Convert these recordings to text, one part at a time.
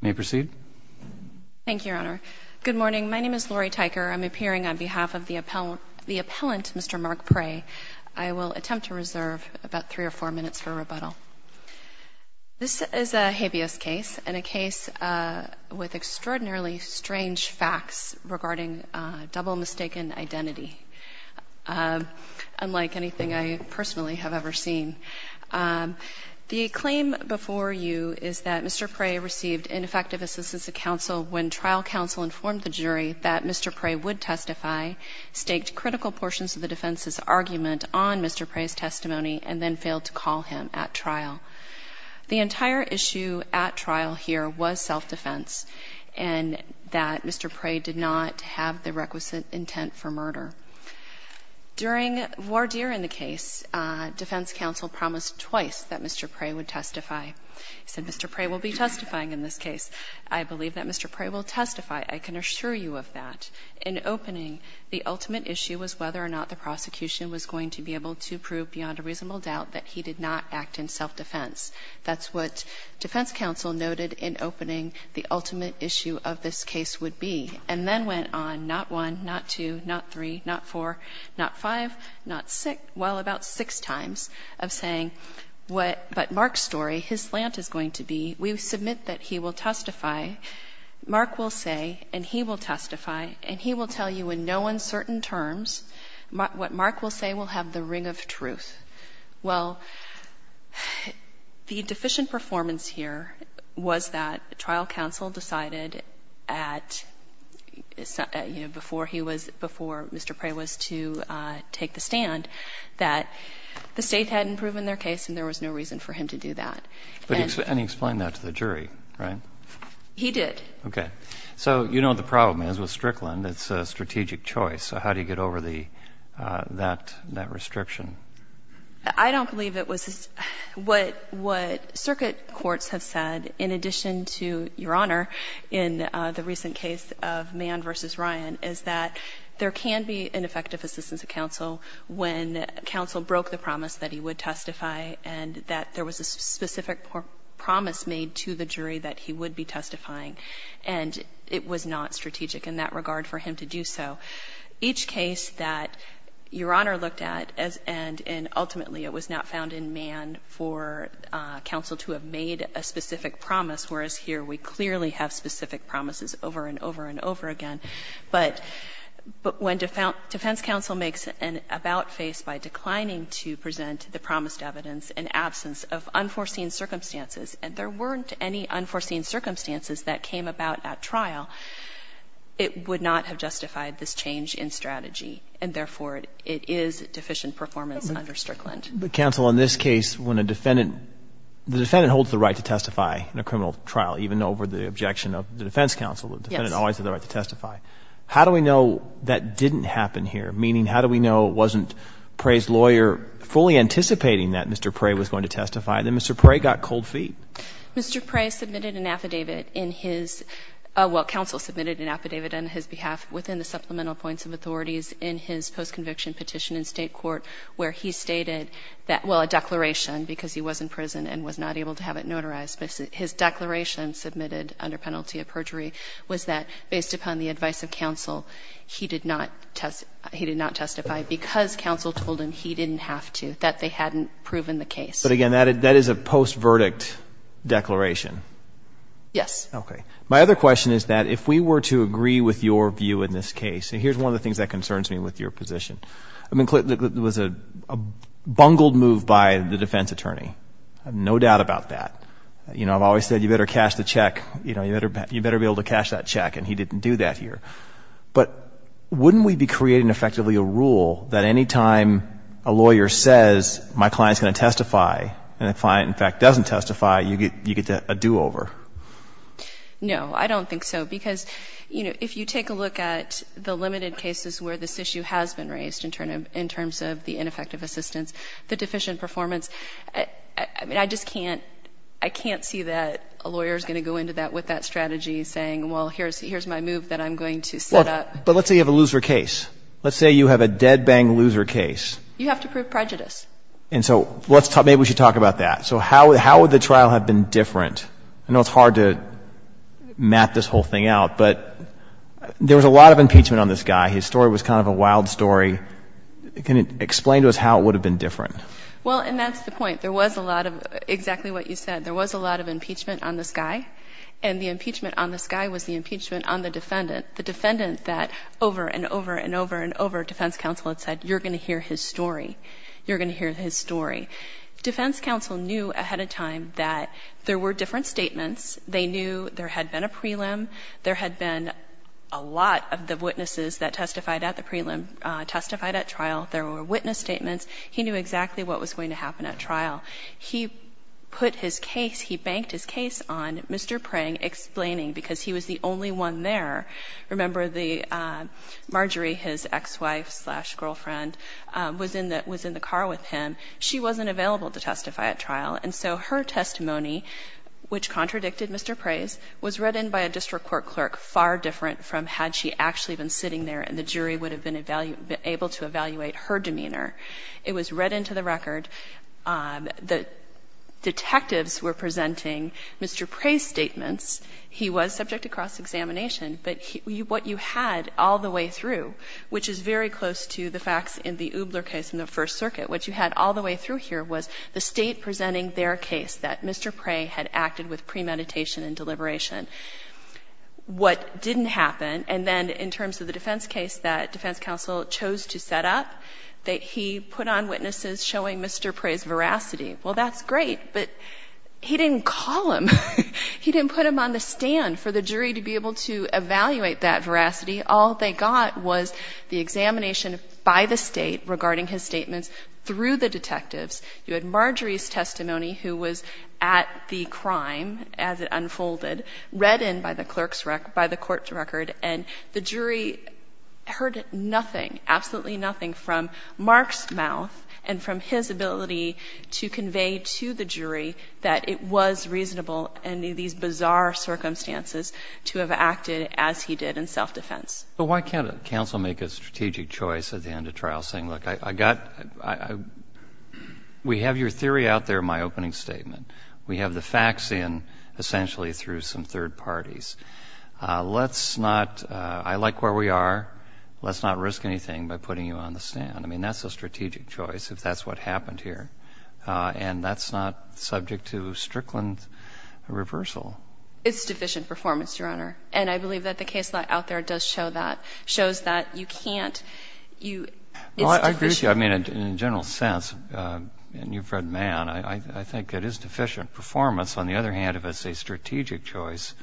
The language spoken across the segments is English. May I proceed? Thank you, Your Honor. Good morning. My name is Lori Tyker. I'm appearing on behalf of the appellant, Mr. Mark Pray. I will attempt to reserve about three or four minutes for rebuttal. This is a habeas case and a case with extraordinarily strange facts regarding double mistaken identity, unlike anything I personally have ever seen. The claim before you is that Mr. Pray received ineffective assistance of counsel when trial counsel informed the jury that Mr. Pray would testify, staked critical portions of the defense's argument on Mr. Pray's testimony, and then failed to call him at trial. The entire issue at trial here was self-defense and that Mr. Pray did not have the requisite intent for murder. During voir dire in the case, defense counsel promised twice that Mr. Pray would testify. He said, Mr. Pray will be testifying in this case. I believe that Mr. Pray will testify. I can assure you of that. In opening, the ultimate issue was whether or not the prosecution was going to be able to prove beyond a reasonable doubt that he did not act in self-defense. That's what defense counsel noted in opening the ultimate issue of this case would be. And then went on, not one, not two, not three, not four, not five, not six, well, about six times of saying, but Mark's story, his slant is going to be, we submit that he will testify, Mark will say, and he will testify, and he will tell you in no uncertain terms what Mark will say will have the ring of truth. Well, the deficient performance here was that trial counsel decided at trial counsel's discretion, you know, before he was, before Mr. Pray was to take the stand, that the state hadn't proven their case and there was no reason for him to do that. And he explained that to the jury, right? He did. Okay. So you know what the problem is with Strickland. It's a strategic choice. So how do you get over the, that, that restriction? I don't believe it was, what, what circuit courts have said, in addition to, Your Honor, in the recent case of Mann v. Ryan, is that there can be ineffective assistance of counsel when counsel broke the promise that he would testify and that there was a specific promise made to the jury that he would be testifying, and it was not strategic in that regard for him to do so. Each case that Your Honor looked at, as, and, and ultimately it was not found in Mann for counsel to have made a specific promise, whereas here we clearly have specific promises over and over and over again. But, but when defense counsel makes an about face by declining to present the promised evidence in absence of unforeseen circumstances, and there weren't any unforeseen circumstances that came about at trial, it would not have justified this change in strategy. And therefore, it is deficient performance under Strickland. But counsel, in this case, when a defendant, the defendant holds the right to testify in a criminal trial, even over the objection of the defense counsel, the defendant always has the right to testify. How do we know that didn't happen here? Meaning, how do we know it wasn't Prey's lawyer fully anticipating that Mr. Prey was going to testify, and then Mr. Prey got cold feet? Mr. Prey submitted an affidavit in his, well, counsel submitted an affidavit on his behalf within the supplemental points of authorities in his post-conviction petition in state court where he stated that, well, a declaration, because he was in prison and was not able to have it notarized, but his declaration submitted under penalty of perjury was that based upon the advice of counsel, he did not test, he did not testify because counsel told him he didn't have to, that they hadn't proven the case. But again, that is a post-verdict declaration. Yes. Okay. My other question is that if we were to agree with your view in this case, and here's one of the things that concerns me with your position. I mean, it was a bungled move by the defense attorney. I have no doubt about that. You know, I've always said, you better cash the check, you know, you better be able to cash that check, and he didn't do that here. But wouldn't we be creating effectively a rule that any time a lawyer says, my client's going to testify, and the client, in fact, doesn't testify, you get a do-over? No, I don't think so, because, you know, if you take a look at the limited cases where this issue has been raised in terms of the ineffective assistance, the deficient performance, I mean, I just can't, I can't see that a lawyer's going to go into that with that strategy saying, well, here's my move that I'm going to set up. But let's say you have a loser case. Let's say you have a dead-bang loser case. You have to prove prejudice. And so let's talk, maybe we should talk about that. So how would the trial have been different? I know it's hard to map this whole thing out, but there was a lot of impeachment on this guy. His story was kind of a wild story. Can you explain to us how it would have been different? Well, and that's the point. There was a lot of, exactly what you said, there was a lot of impeachment on this guy, and the impeachment on this guy was the impeachment on the defendant. The defendant that over and over and over and over, defense counsel had said, you're going to hear his story. You're going to hear his story. Defense counsel knew ahead of time that there were different statements. They knew there had been a prelim. There had been a lot of the witnesses that testified at the prelim testified at trial. There were witness statements. He knew exactly what was going to happen at trial. He put his case, he banked his case on Mr. Prang explaining, because he was the only one there. Remember, Marjorie, his ex-wife slash girlfriend, was in the car with him. She wasn't available to testify at trial. And so her testimony, which contradicted Mr. Prang's, was read in by a district court clerk far different from had she actually been sitting there and the jury would have been able to evaluate her demeanor. It was read into the record. The detectives were presenting Mr. Prang's statements. He was subject to cross-examination, but what you had all the way through, which is very close to the facts in the Ubler case in the First Circuit, what you had all the way through here was the state presenting their case that Mr. Prang had acted with premeditation and deliberation. What didn't happen, and then in terms of the defense case that defense counsel chose to set up, that he put on witnesses showing Mr. Prang's veracity. Well, that's great, but he didn't call him. He didn't put him on the stand for the jury to be able to evaluate that veracity. All they got was the examination by the state regarding his statements through the detectives. You had Marjorie's testimony, who was at the crime as it unfolded, read in by the clerk's record, by the court's record, and the jury heard nothing, absolutely nothing from Mark's mouth and from his ability to convey to the jury that it was reasonable under these bizarre circumstances to have acted as he did in self-defense. But why can't counsel make a strategic choice at the end of trial saying, look, I got, we have your theory out there in my opening statement. We have the facts in essentially through some third parties. Let's not, I like where we are. Let's not risk anything by putting you on the stand. I mean, that's a strategic choice if that's what happened here, and that's not subject to Strickland reversal. It's deficient performance, Your Honor. And I believe that the case out there does show that, shows that you can't, you, it's deficient. Well, I agree with you. I mean, in a general sense, and you've read Mann, I think it is deficient performance. On the other hand, if it's a strategic choice,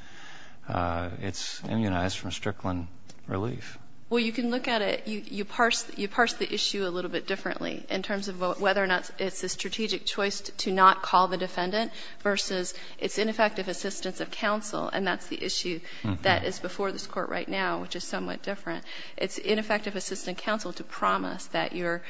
it's immunized from Strickland relief. Well, you can look at it, you parse the issue a little bit differently in terms of whether or not it's a strategic choice to not call the defendant versus its ineffective assistance of counsel. And that's the issue that is before this Court right now, which is somewhat different. It's ineffective assistance of counsel to promise that your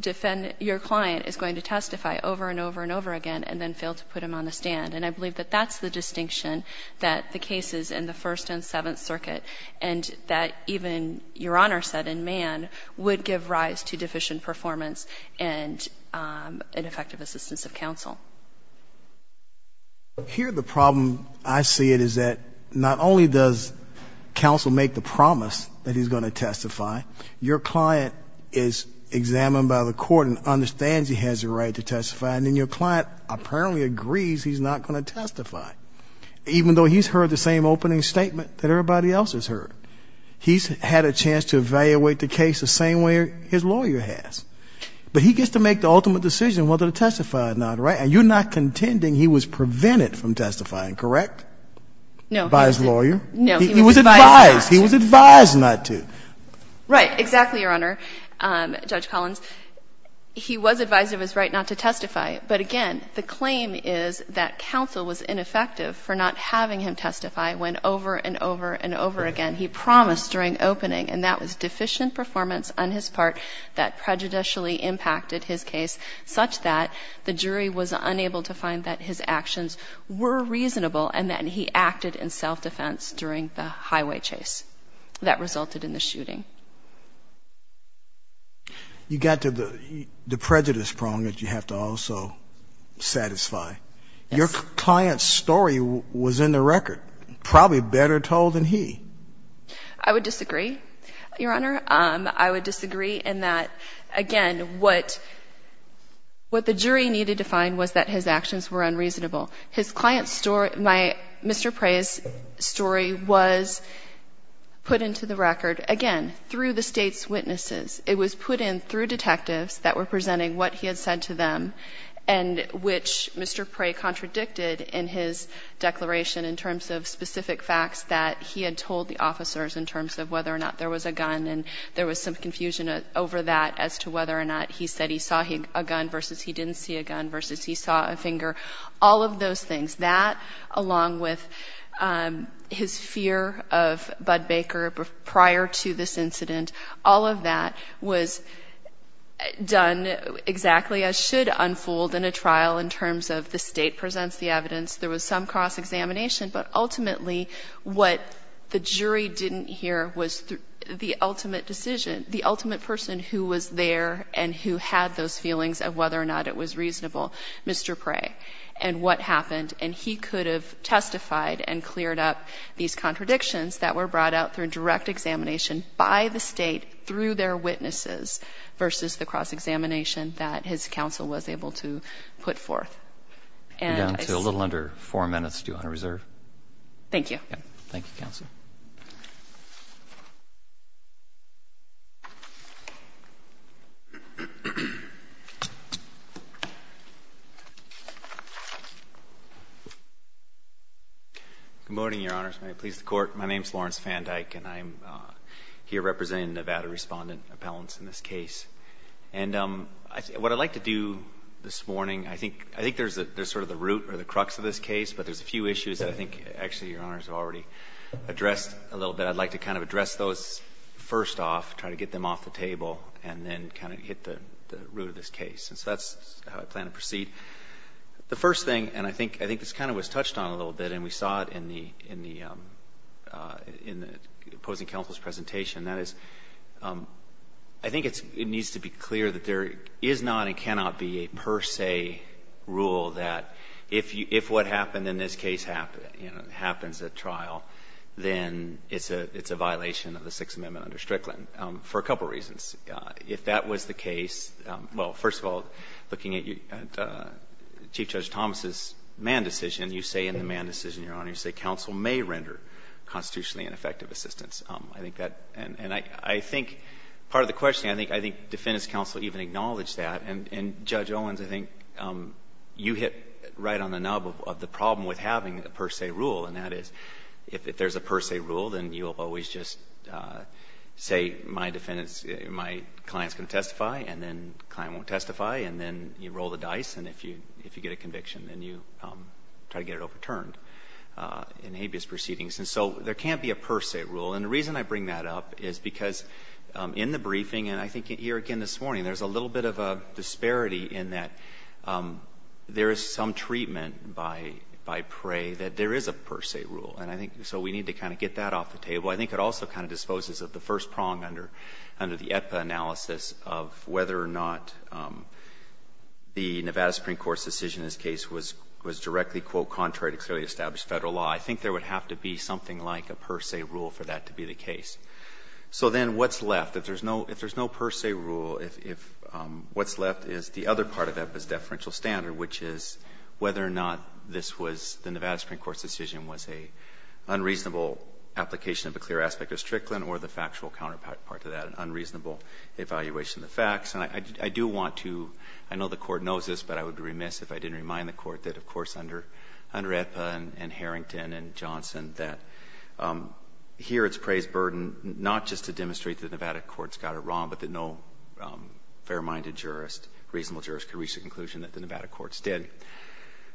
defendant, your client is going to testify over and over and over again, and then fail to put him on the stand. And I believe that that's the distinction that the cases in the First and Seventh Circuit, and that even Your Honor said in Mann, would give rise to deficient performance and ineffective assistance of counsel. Here the problem I see it is that not only does counsel make the promise that he's going to testify, your client is examined by the court and understands he has a right to testify, and then your client apparently agrees he's not going to testify, even though he's heard the same opening statement that everybody else has heard. He's had a chance to evaluate the case the same way his lawyer has. But he gets to make the ultimate decision whether to testify or not, right? And you're not contending he was prevented from testifying, correct? No. By his lawyer? No. He was advised not to. He was advised not to. Right. Exactly, Your Honor, Judge Collins. He was advised of his right not to testify, but again, the claim is that counsel was ineffective for not having him testify when over and over and over again he promised during opening, and that was deficient performance on his part that prejudicially impacted his case such that the jury was unable to find that his actions were reasonable and that he acted in self-defense during the highway chase that resulted in the shooting. You got to the prejudice problem that you have to also satisfy. Yes. Your client's story was in the record, probably better told than he. I would disagree, Your Honor. I would disagree in that, again, what the jury needed to find was that his actions were unreasonable. His client's story, Mr. Prey's story was put into the record, again, through the state's witnesses. It was put in through detectives that were presenting what he had said to them and which Mr. Prey contradicted in his declaration in terms of specific facts that he had told the officers in terms of whether or not there was a gun and there was some confusion over that as to whether or not he said he saw a gun versus he didn't see a gun versus he saw a finger. All of those things, that along with his fear of Bud Baker prior to this incident, all of that was done exactly as should unfold in a trial in terms of the state presents the evidence. There was some cross-examination, but ultimately what the jury didn't hear was the ultimate decision, the ultimate person who was there and who had those feelings of whether or not it was reasonable, Mr. Prey, and what happened. And he could have testified and cleared up these contradictions that were brought out through direct examination by the state, through their witnesses, versus the cross-examination that his counsel was able to put forth. And I... You're down to a little under four minutes due on reserve. Thank you. Thank you, counsel. Good morning, Your Honors. I'm a lawyer. I'm a lawyer. I'm a lawyer. I'm a lawyer. I'm a lawyer. I'm a lawyer. I'm a lawyer. And I'm here representing Nevada Respondent Appellants in this case. And what I'd like to do this morning, I think there's sort of the root or the crux of this case, but there's a few issues that I think actually Your Honors have already addressed a little bit. I'd like to kind of address those first off, try to get them off the table, and then kind of hit the root of this case. And so that's how I plan to proceed. The first thing, and I think this kind of was touched on a little bit, and we saw it in the opposing counsel's presentation, that is, I think it needs to be clear that there is not and cannot be a per se rule that if what happened in this case happens at trial, then it's a violation of the Sixth Amendment under Strickland for a couple reasons. If that was the case, well, first of all, looking at Chief Judge Thomas's man decision, you say in the man decision, Your Honor, you say counsel may render constitutionally ineffective assistance. I think that, and I think part of the question, I think defendants counsel even acknowledged that. And Judge Owens, I think you hit right on the nub of the problem with having the per se rule, and that is, if there's a per se rule, then you'll always just say, my defendant's, my client's going to testify, and then the client won't testify, and then you roll the I get it overturned in habeas proceedings. And so there can't be a per se rule, and the reason I bring that up is because in the briefing, and I think here again this morning, there's a little bit of a disparity in that there is some treatment by prey that there is a per se rule, and I think so we need to kind of get that off the table. I think it also kind of disposes of the first prong under the EPA analysis of whether or not the Nevada Supreme Court's decision in this case was directly, quote, contrary to clearly established Federal law. I think there would have to be something like a per se rule for that to be the case. So then what's left? If there's no per se rule, what's left is the other part of EPA's deferential standard, which is whether or not this was, the Nevada Supreme Court's decision was an unreasonable application of a clear aspect of Strickland or the factual counterpart to that, an unreasonable evaluation of the facts. And I do want to, I know the Court knows this, but I would be remiss if I didn't remind the Court that, of course, under EPA and Harrington and Johnson, that here it's prey's burden not just to demonstrate that the Nevada courts got it wrong, but that no fair-minded jurist, reasonable jurist, could reach the conclusion that the Nevada courts did.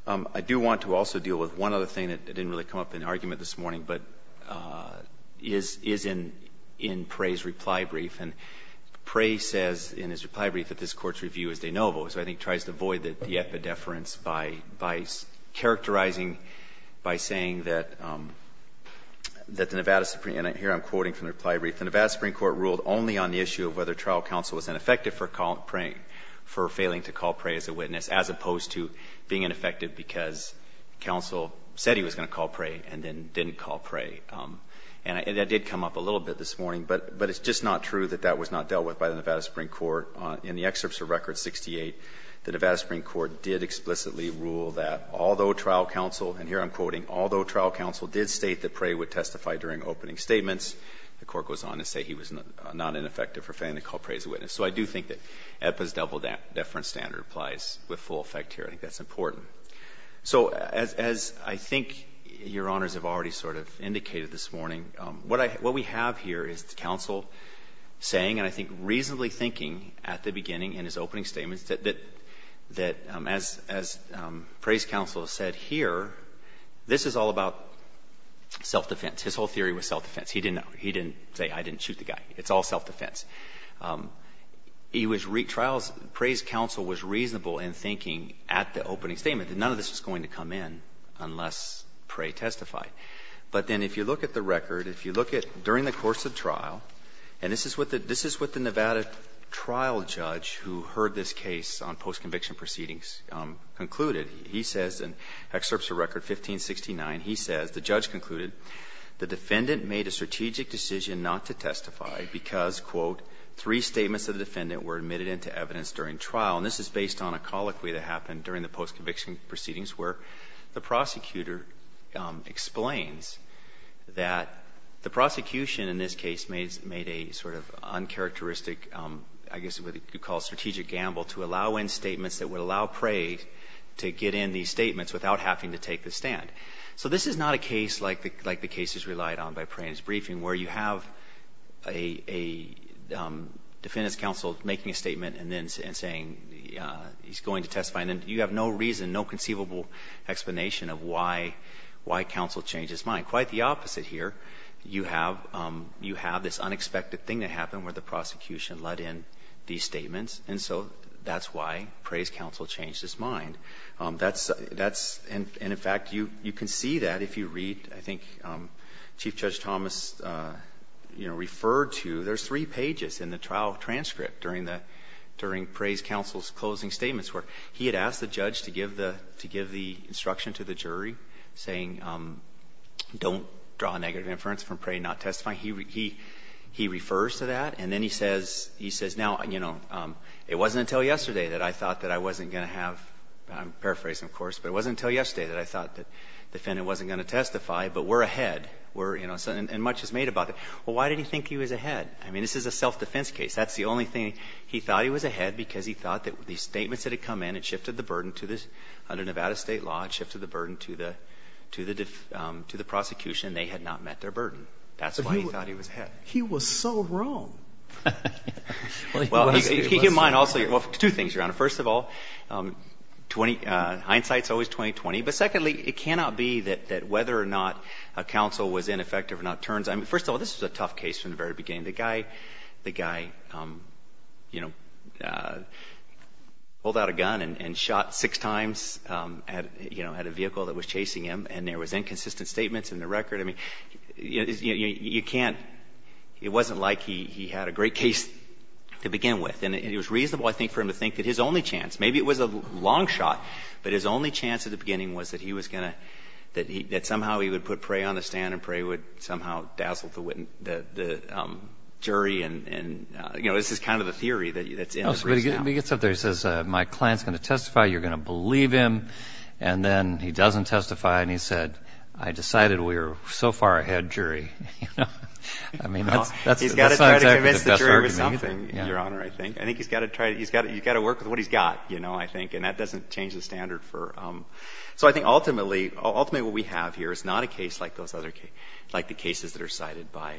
I do want to also deal with one other thing that didn't really come up in argument this morning, but is in Prey's reply brief. And Prey says in his reply brief that this Court's review is de novo, so I think tries to avoid the epidefference by characterizing, by saying that the Nevada Supreme, and here I'm quoting from the reply brief, the Nevada Supreme Court ruled only on the issue of whether trial counsel was ineffective for failing to call Prey as a witness, as opposed to being going to call Prey and then didn't call Prey. And that did come up a little bit this morning, but it's just not true that that was not dealt with by the Nevada Supreme Court. In the excerpts of Record 68, the Nevada Supreme Court did explicitly rule that although trial counsel, and here I'm quoting, although trial counsel did state that Prey would testify during opening statements, the Court goes on to say he was not ineffective for failing to call Prey as a witness. So I do think that EPA's double-deference standard applies with full effect here. I think that's important. So as I think Your Honors have already sort of indicated this morning, what I — what we have here is the counsel saying, and I think reasonably thinking at the beginning in his opening statements, that as Prey's counsel said here, this is all about self-defense. His whole theory was self-defense. He didn't say I didn't shoot the guy. It's all self-defense. He was — Prey's counsel was reasonable in thinking at the opening statement that none of this was going to come in unless Prey testified. But then if you look at the record, if you look at during the course of trial, and this is what the Nevada trial judge who heard this case on post-conviction proceedings concluded. He says in excerpts of Record 1569, he says, the judge concluded, the defendant made a three statements of the defendant were admitted into evidence during trial, and this is based on a colloquy that happened during the post-conviction proceedings where the prosecutor explains that the prosecution in this case made a sort of uncharacteristic, I guess what you call strategic gamble to allow in statements that would allow Prey to get in these statements without having to take the stand. So this is not a case like the case he's relied on by Prey in his briefing where you have a defendant's counsel making a statement and then saying he's going to testify, and then you have no reason, no conceivable explanation of why counsel changed his mind. Quite the opposite here. You have this unexpected thing that happened where the prosecution let in these statements, and so that's why Prey's counsel changed his mind. And in fact, you can see that if you read, I think Chief Judge Thomas referred to, there's three pages in the trial transcript during Prey's counsel's closing statements where he had asked the judge to give the instruction to the jury saying, don't draw a negative inference from Prey not testifying. He refers to that, and then he says, now, you know, it wasn't until yesterday that I wasn't going to have, I'm paraphrasing, of course, but it wasn't until yesterday that I thought that the defendant wasn't going to testify, but we're ahead, and much is made about it. Well, why did he think he was ahead? I mean, this is a self-defense case. That's the only thing. He thought he was ahead because he thought that the statements that had come in had shifted the burden to the, under Nevada state law, it shifted the burden to the prosecution. They had not met their burden. That's why he thought he was ahead. He was so wrong. Well, he was. He was. Well, two things, Your Honor. First of all, hindsight's always 20-20, but secondly, it cannot be that whether or not a counsel was ineffective or not turns. I mean, first of all, this was a tough case from the very beginning. The guy, you know, pulled out a gun and shot six times at, you know, at a vehicle that was chasing him, and there was inconsistent statements in the record. I mean, you can't, it wasn't like he had a great case to begin with. And it was reasonable, I think, for him to think that his only chance, maybe it was a long shot, but his only chance at the beginning was that he was going to, that somehow he would put Prey on the stand and Prey would somehow dazzle the jury and, you know, this is kind of the theory that's in it right now. No, but he gets up there, he says, my client's going to testify, you're going to believe him, and then he doesn't testify, and he said, I decided we were so far ahead jury, you know. I mean, that's not exactly the best argument, you know. No, he's got to try to convince the jury with something, Your Honor, I think. I think he's got to try, he's got to work with what he's got, you know, I think, and that doesn't change the standard for, so I think ultimately, ultimately what we have here is not a case like those other cases, like the cases that are cited by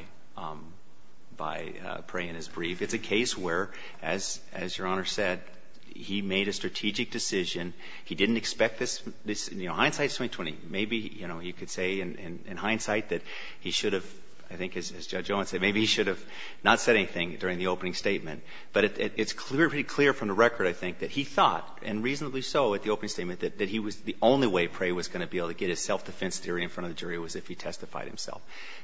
Prey in his brief. It's a case where, as Your Honor said, he made a strategic decision. He didn't expect this, you know, hindsight is 20-20, maybe, you know, he could say in this case, Judge Owen said maybe he should have not said anything during the opening statement, but it's pretty clear from the record, I think, that he thought, and reasonably so at the opening statement, that the only way Prey was going to be able to get his self-defense theory in front of the jury was if he testified himself.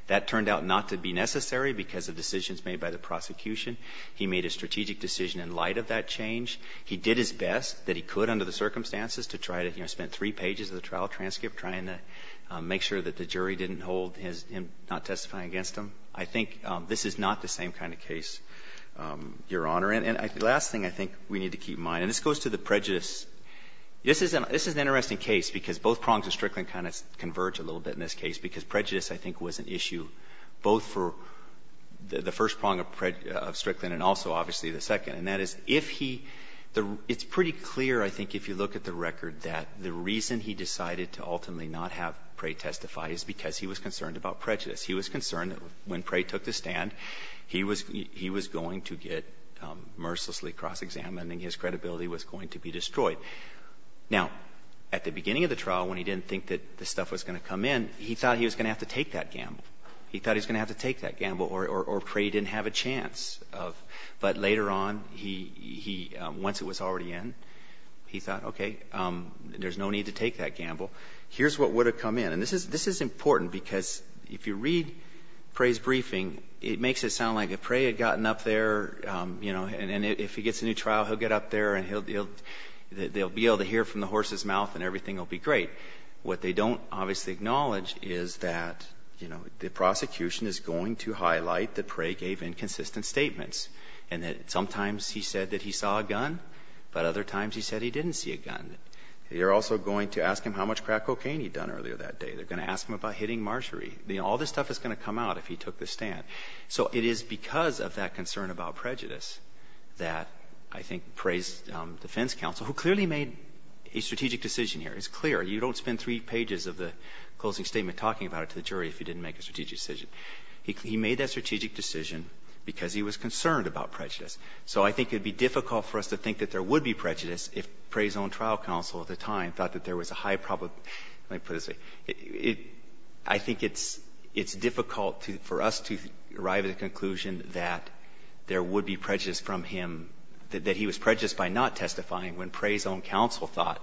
That turned out not to be necessary because of decisions made by the prosecution. He made a strategic decision in light of that change. He did his best that he could under the circumstances to try to, you know, spend three pages of the trial transcript trying to make sure that the jury didn't hold him not testifying against him. I think this is not the same kind of case, Your Honor. And the last thing I think we need to keep in mind, and this goes to the prejudice. This is an interesting case because both prongs of Strickland kind of converge a little bit in this case, because prejudice, I think, was an issue both for the first prong of Strickland and also, obviously, the second, and that is if he the — it's pretty clear, I think, if you look at the record, that the reason he decided to ultimately not have Prey testify is because he was concerned about prejudice. He was concerned that when Prey took the stand, he was going to get mercilessly cross-examined and his credibility was going to be destroyed. Now, at the beginning of the trial, when he didn't think that this stuff was going to come in, he thought he was going to have to take that gamble. He thought he was going to have to take that gamble or Prey didn't have a chance of — but later on, he — once it was already in, he thought, okay, there's no need to take that gamble. Here's what would have come in. This is important, because if you read Prey's briefing, it makes it sound like if Prey had gotten up there, you know, and if he gets a new trial, he'll get up there and he'll — they'll be able to hear from the horse's mouth and everything will be great. What they don't, obviously, acknowledge is that, you know, the prosecution is going to highlight that Prey gave inconsistent statements and that sometimes he said that he saw a gun, but other times he said he didn't see a gun. And they're also going to ask him how much crack cocaine he'd done earlier that day. They're going to ask him about hitting Marjorie. All this stuff is going to come out if he took the stand. So it is because of that concern about prejudice that I think Prey's defense counsel, who clearly made a strategic decision here — it's clear, you don't spend three pages of the closing statement talking about it to the jury if you didn't make a strategic decision — he made that strategic decision because he was concerned about prejudice. So I think it would be difficult for us to think that there would be prejudice if Prey's own trial counsel at the time thought that there was a high probability — let me put this — I think it's difficult for us to arrive at a conclusion that there would be prejudice from him, that he was prejudiced by not testifying when Prey's own counsel thought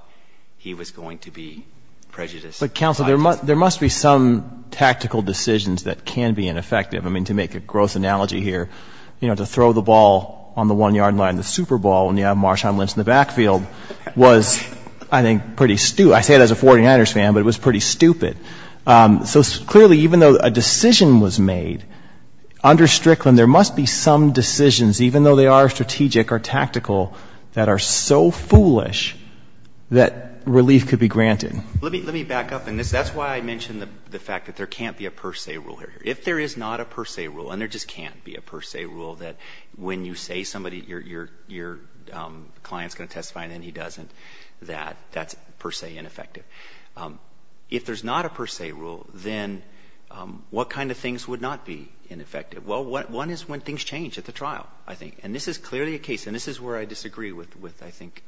he was going to be prejudiced. But, counsel, there must be some tactical decisions that can be ineffective. I mean, to make a gross analogy here, you know, to throw the ball on the one-yard line in the Super Bowl and you have Marshawn Lynch in the backfield was, I think, pretty — I say it as a 49ers fan, but it was pretty stupid. So clearly, even though a decision was made under Strickland, there must be some decisions, even though they are strategic or tactical, that are so foolish that relief could be granted. Let me back up on this. That's why I mentioned the fact that there can't be a per se rule here. If there is not a per se rule, and there just can't be a per se rule, that when you say somebody, your client is going to testify and then he doesn't, that's per se ineffective. If there's not a per se rule, then what kind of things would not be ineffective? Well, one is when things change at the trial, I think, and this is clearly a case, and this is where I disagree with, I think,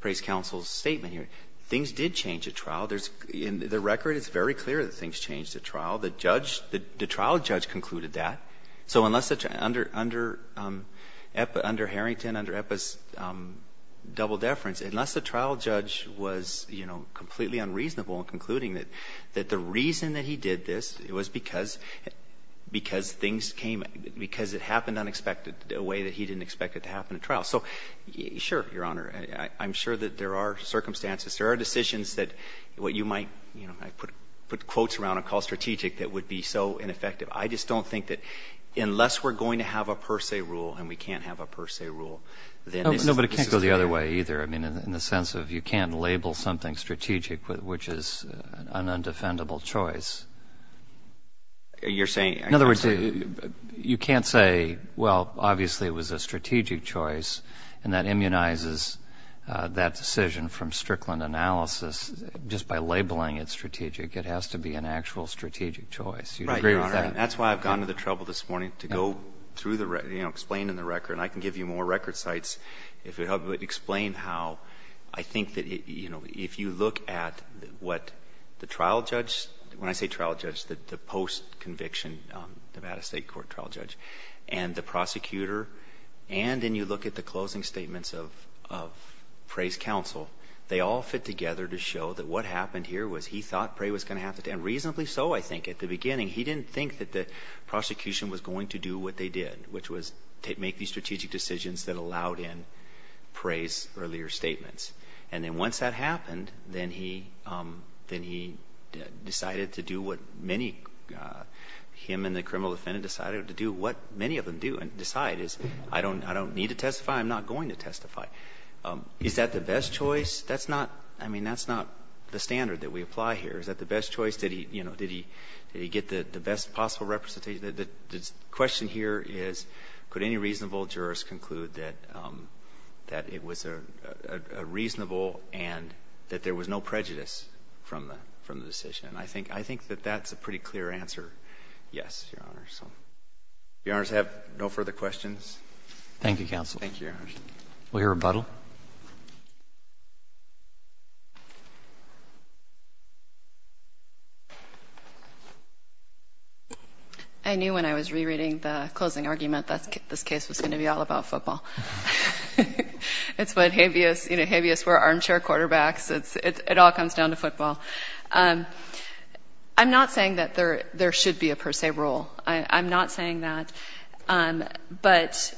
Prey's counsel's statement here. Things did change at trial. The record is very clear that things changed at trial. The trial judge concluded that. So under Harrington, under EPA's double deference, unless the trial judge was completely unreasonable in concluding that the reason that he did this was because things came, because it happened unexpected, a way that he didn't expect it to happen at trial. So sure, Your Honor, I'm sure that there are circumstances, there are decisions that what you might, you know, I put quotes around a call strategic that would be so ineffective. I just don't think that unless we're going to have a per se rule and we can't have a per se rule, then this is fair. No, but it can't go the other way either. I mean, in the sense of you can't label something strategic which is an undefendable choice. You're saying? In other words, you can't say, well, obviously it was a strategic choice and that immunizes that decision from Strickland analysis just by labeling it strategic. It has to be an actual strategic choice. Right, Your Honor. That's why I've gone to the trouble this morning to go through the, you know, explain in the record and I can give you more record sites if it helps, but explain how I think that, you know, if you look at what the trial judge, when I say trial judge, the post conviction Nevada State Court trial judge and the prosecutor and then you look at the closing statements of Prey's counsel, they all fit together to show that what happened here was he thought Prey was going to have to, and reasonably so. I think at the beginning he didn't think that the prosecution was going to do what they did, which was make these strategic decisions that allowed in Prey's earlier statements. And then once that happened, then he decided to do what many, him and the criminal defendant decided to do, what many of them do and decide is I don't need to testify, I'm not going to testify. Is that the best choice? That's not, I mean, that's not the standard that we apply here. Is that the best choice? Did he, you know, did he, did he get the best possible representation, the question here is could any reasonable jurist conclude that it was a reasonable and that there was no prejudice from the decision? I think that that's a pretty clear answer, yes, Your Honor, so, Your Honors, I have no further questions. Thank you, counsel. Thank you, Your Honor. We'll hear rebuttal. I knew when I was rereading the closing argument that this case was going to be all about football. It's what habeas, you know, habeas were, armchair quarterbacks, it all comes down to football. I'm not saying that there should be a per se rule, I'm not saying that, but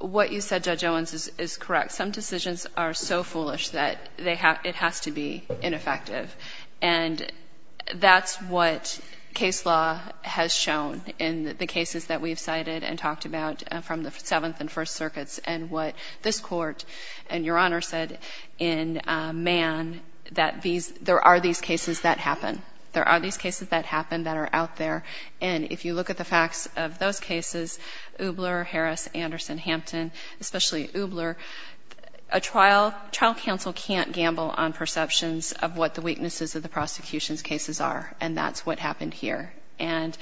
what you said, Judge Owens, is correct. Some decisions are so foolish that it has to be ineffective, and that's what case law has shown in the cases that we've cited and talked about from the Seventh and First Circuits and what this Court and Your Honor said in Mann that there are these cases that happen. There are these cases that happen that are out there, and if you look at the facts of those cases, Oobler, Harris, Anderson, Hampton, especially Oobler, a trial counsel can't gamble on perceptions of what the weaknesses of the prosecution's cases are, and that's what happened here. And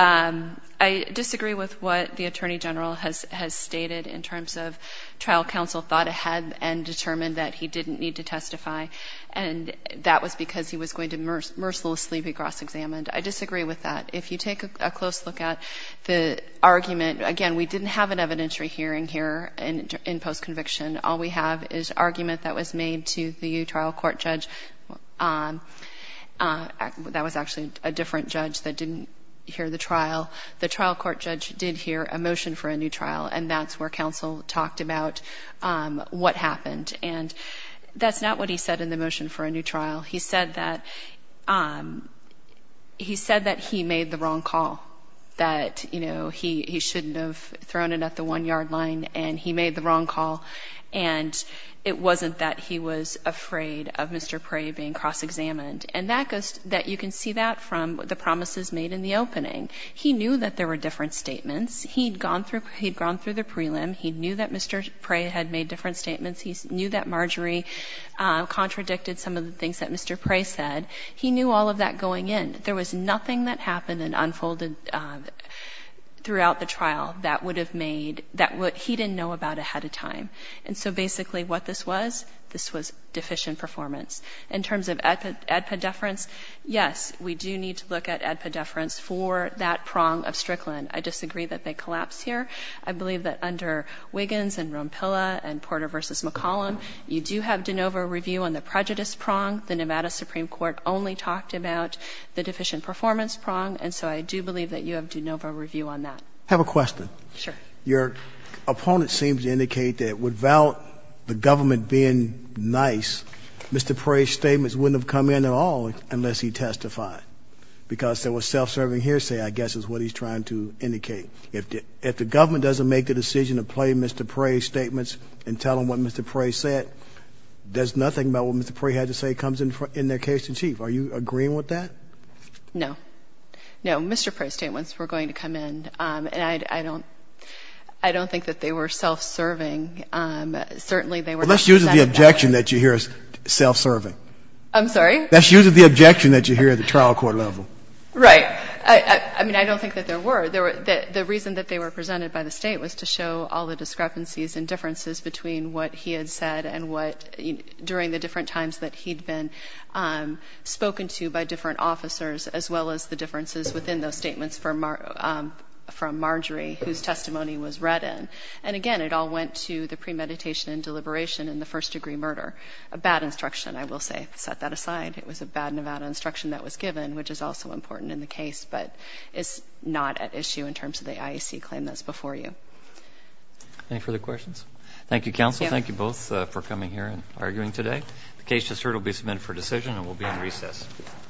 I disagree with what the Attorney General has stated in terms of trial counsel thought ahead and determined that he didn't need to testify, and that was because he was going to mercilessly be cross-examined. I disagree with that. If you take a close look at the argument, again, we didn't have an evidentiary hearing here in post-conviction. All we have is argument that was made to the trial court judge. That was actually a different judge that didn't hear the trial. The trial court judge did hear a motion for a new trial, and that's where counsel talked about what happened, and that's not what he said in the motion for a new trial. He said that he made the wrong call, that, you know, he shouldn't have thrown it at the one-yard line, and he made the wrong call, and it wasn't that he was afraid of Mr. Prey being cross-examined. And that goes, that you can see that from the promises made in the opening. He knew that there were different statements. He'd gone through, he'd gone through the prelim. He knew that Mr. Prey had made different statements. He knew that Marjorie contradicted some of the things that Mr. Prey said. He knew all of that going in. There was nothing that happened and unfolded throughout the trial that would have made, that he didn't know about ahead of time. And so basically what this was, this was deficient performance. In terms of ADPA deference, yes, we do need to look at ADPA deference for that prong of Strickland. I disagree that they collapse here. I believe that under Wiggins and Ronpilla and Porter v. McCollum, you do have de novo review on the prejudice prong. The Nevada Supreme Court only talked about the deficient performance prong. And so I do believe that you have de novo review on that. Have a question. Sure. Your opponent seems to indicate that without the government being nice, Mr. Prey's statements wouldn't have come in at all unless he testified. Because there was self-serving hearsay, I guess, is what he's trying to indicate. If the government doesn't make the decision to play Mr. Prey's statements and tell them what Mr. Prey said, there's nothing about what Mr. Prey had to say comes in their case to achieve. Are you agreeing with that? No. No. Mr. Prey's statements were going to come in, and I don't think that they were self-serving. Certainly they were. That's usually the objection that you hear is self-serving. I'm sorry? That's usually the objection that you hear at the trial court level. Right. I mean, I don't think that there were. The reason that they were presented by the state was to show all the discrepancies and differences between what he had said and what, during the different times that he'd been spoken to by different officers, as well as the differences within those statements from Marjorie whose testimony was read in. And again, it all went to the premeditation and deliberation in the first-degree murder. A bad instruction, I will say. Set that aside. It was a bad Nevada instruction that was given, which is also important in the case, but it's not at issue in terms of the IAC claim that's before you. Any further questions? Thank you, counsel. Thank you both for coming here and arguing today. The case just heard will be submitted for decision and will be in recess.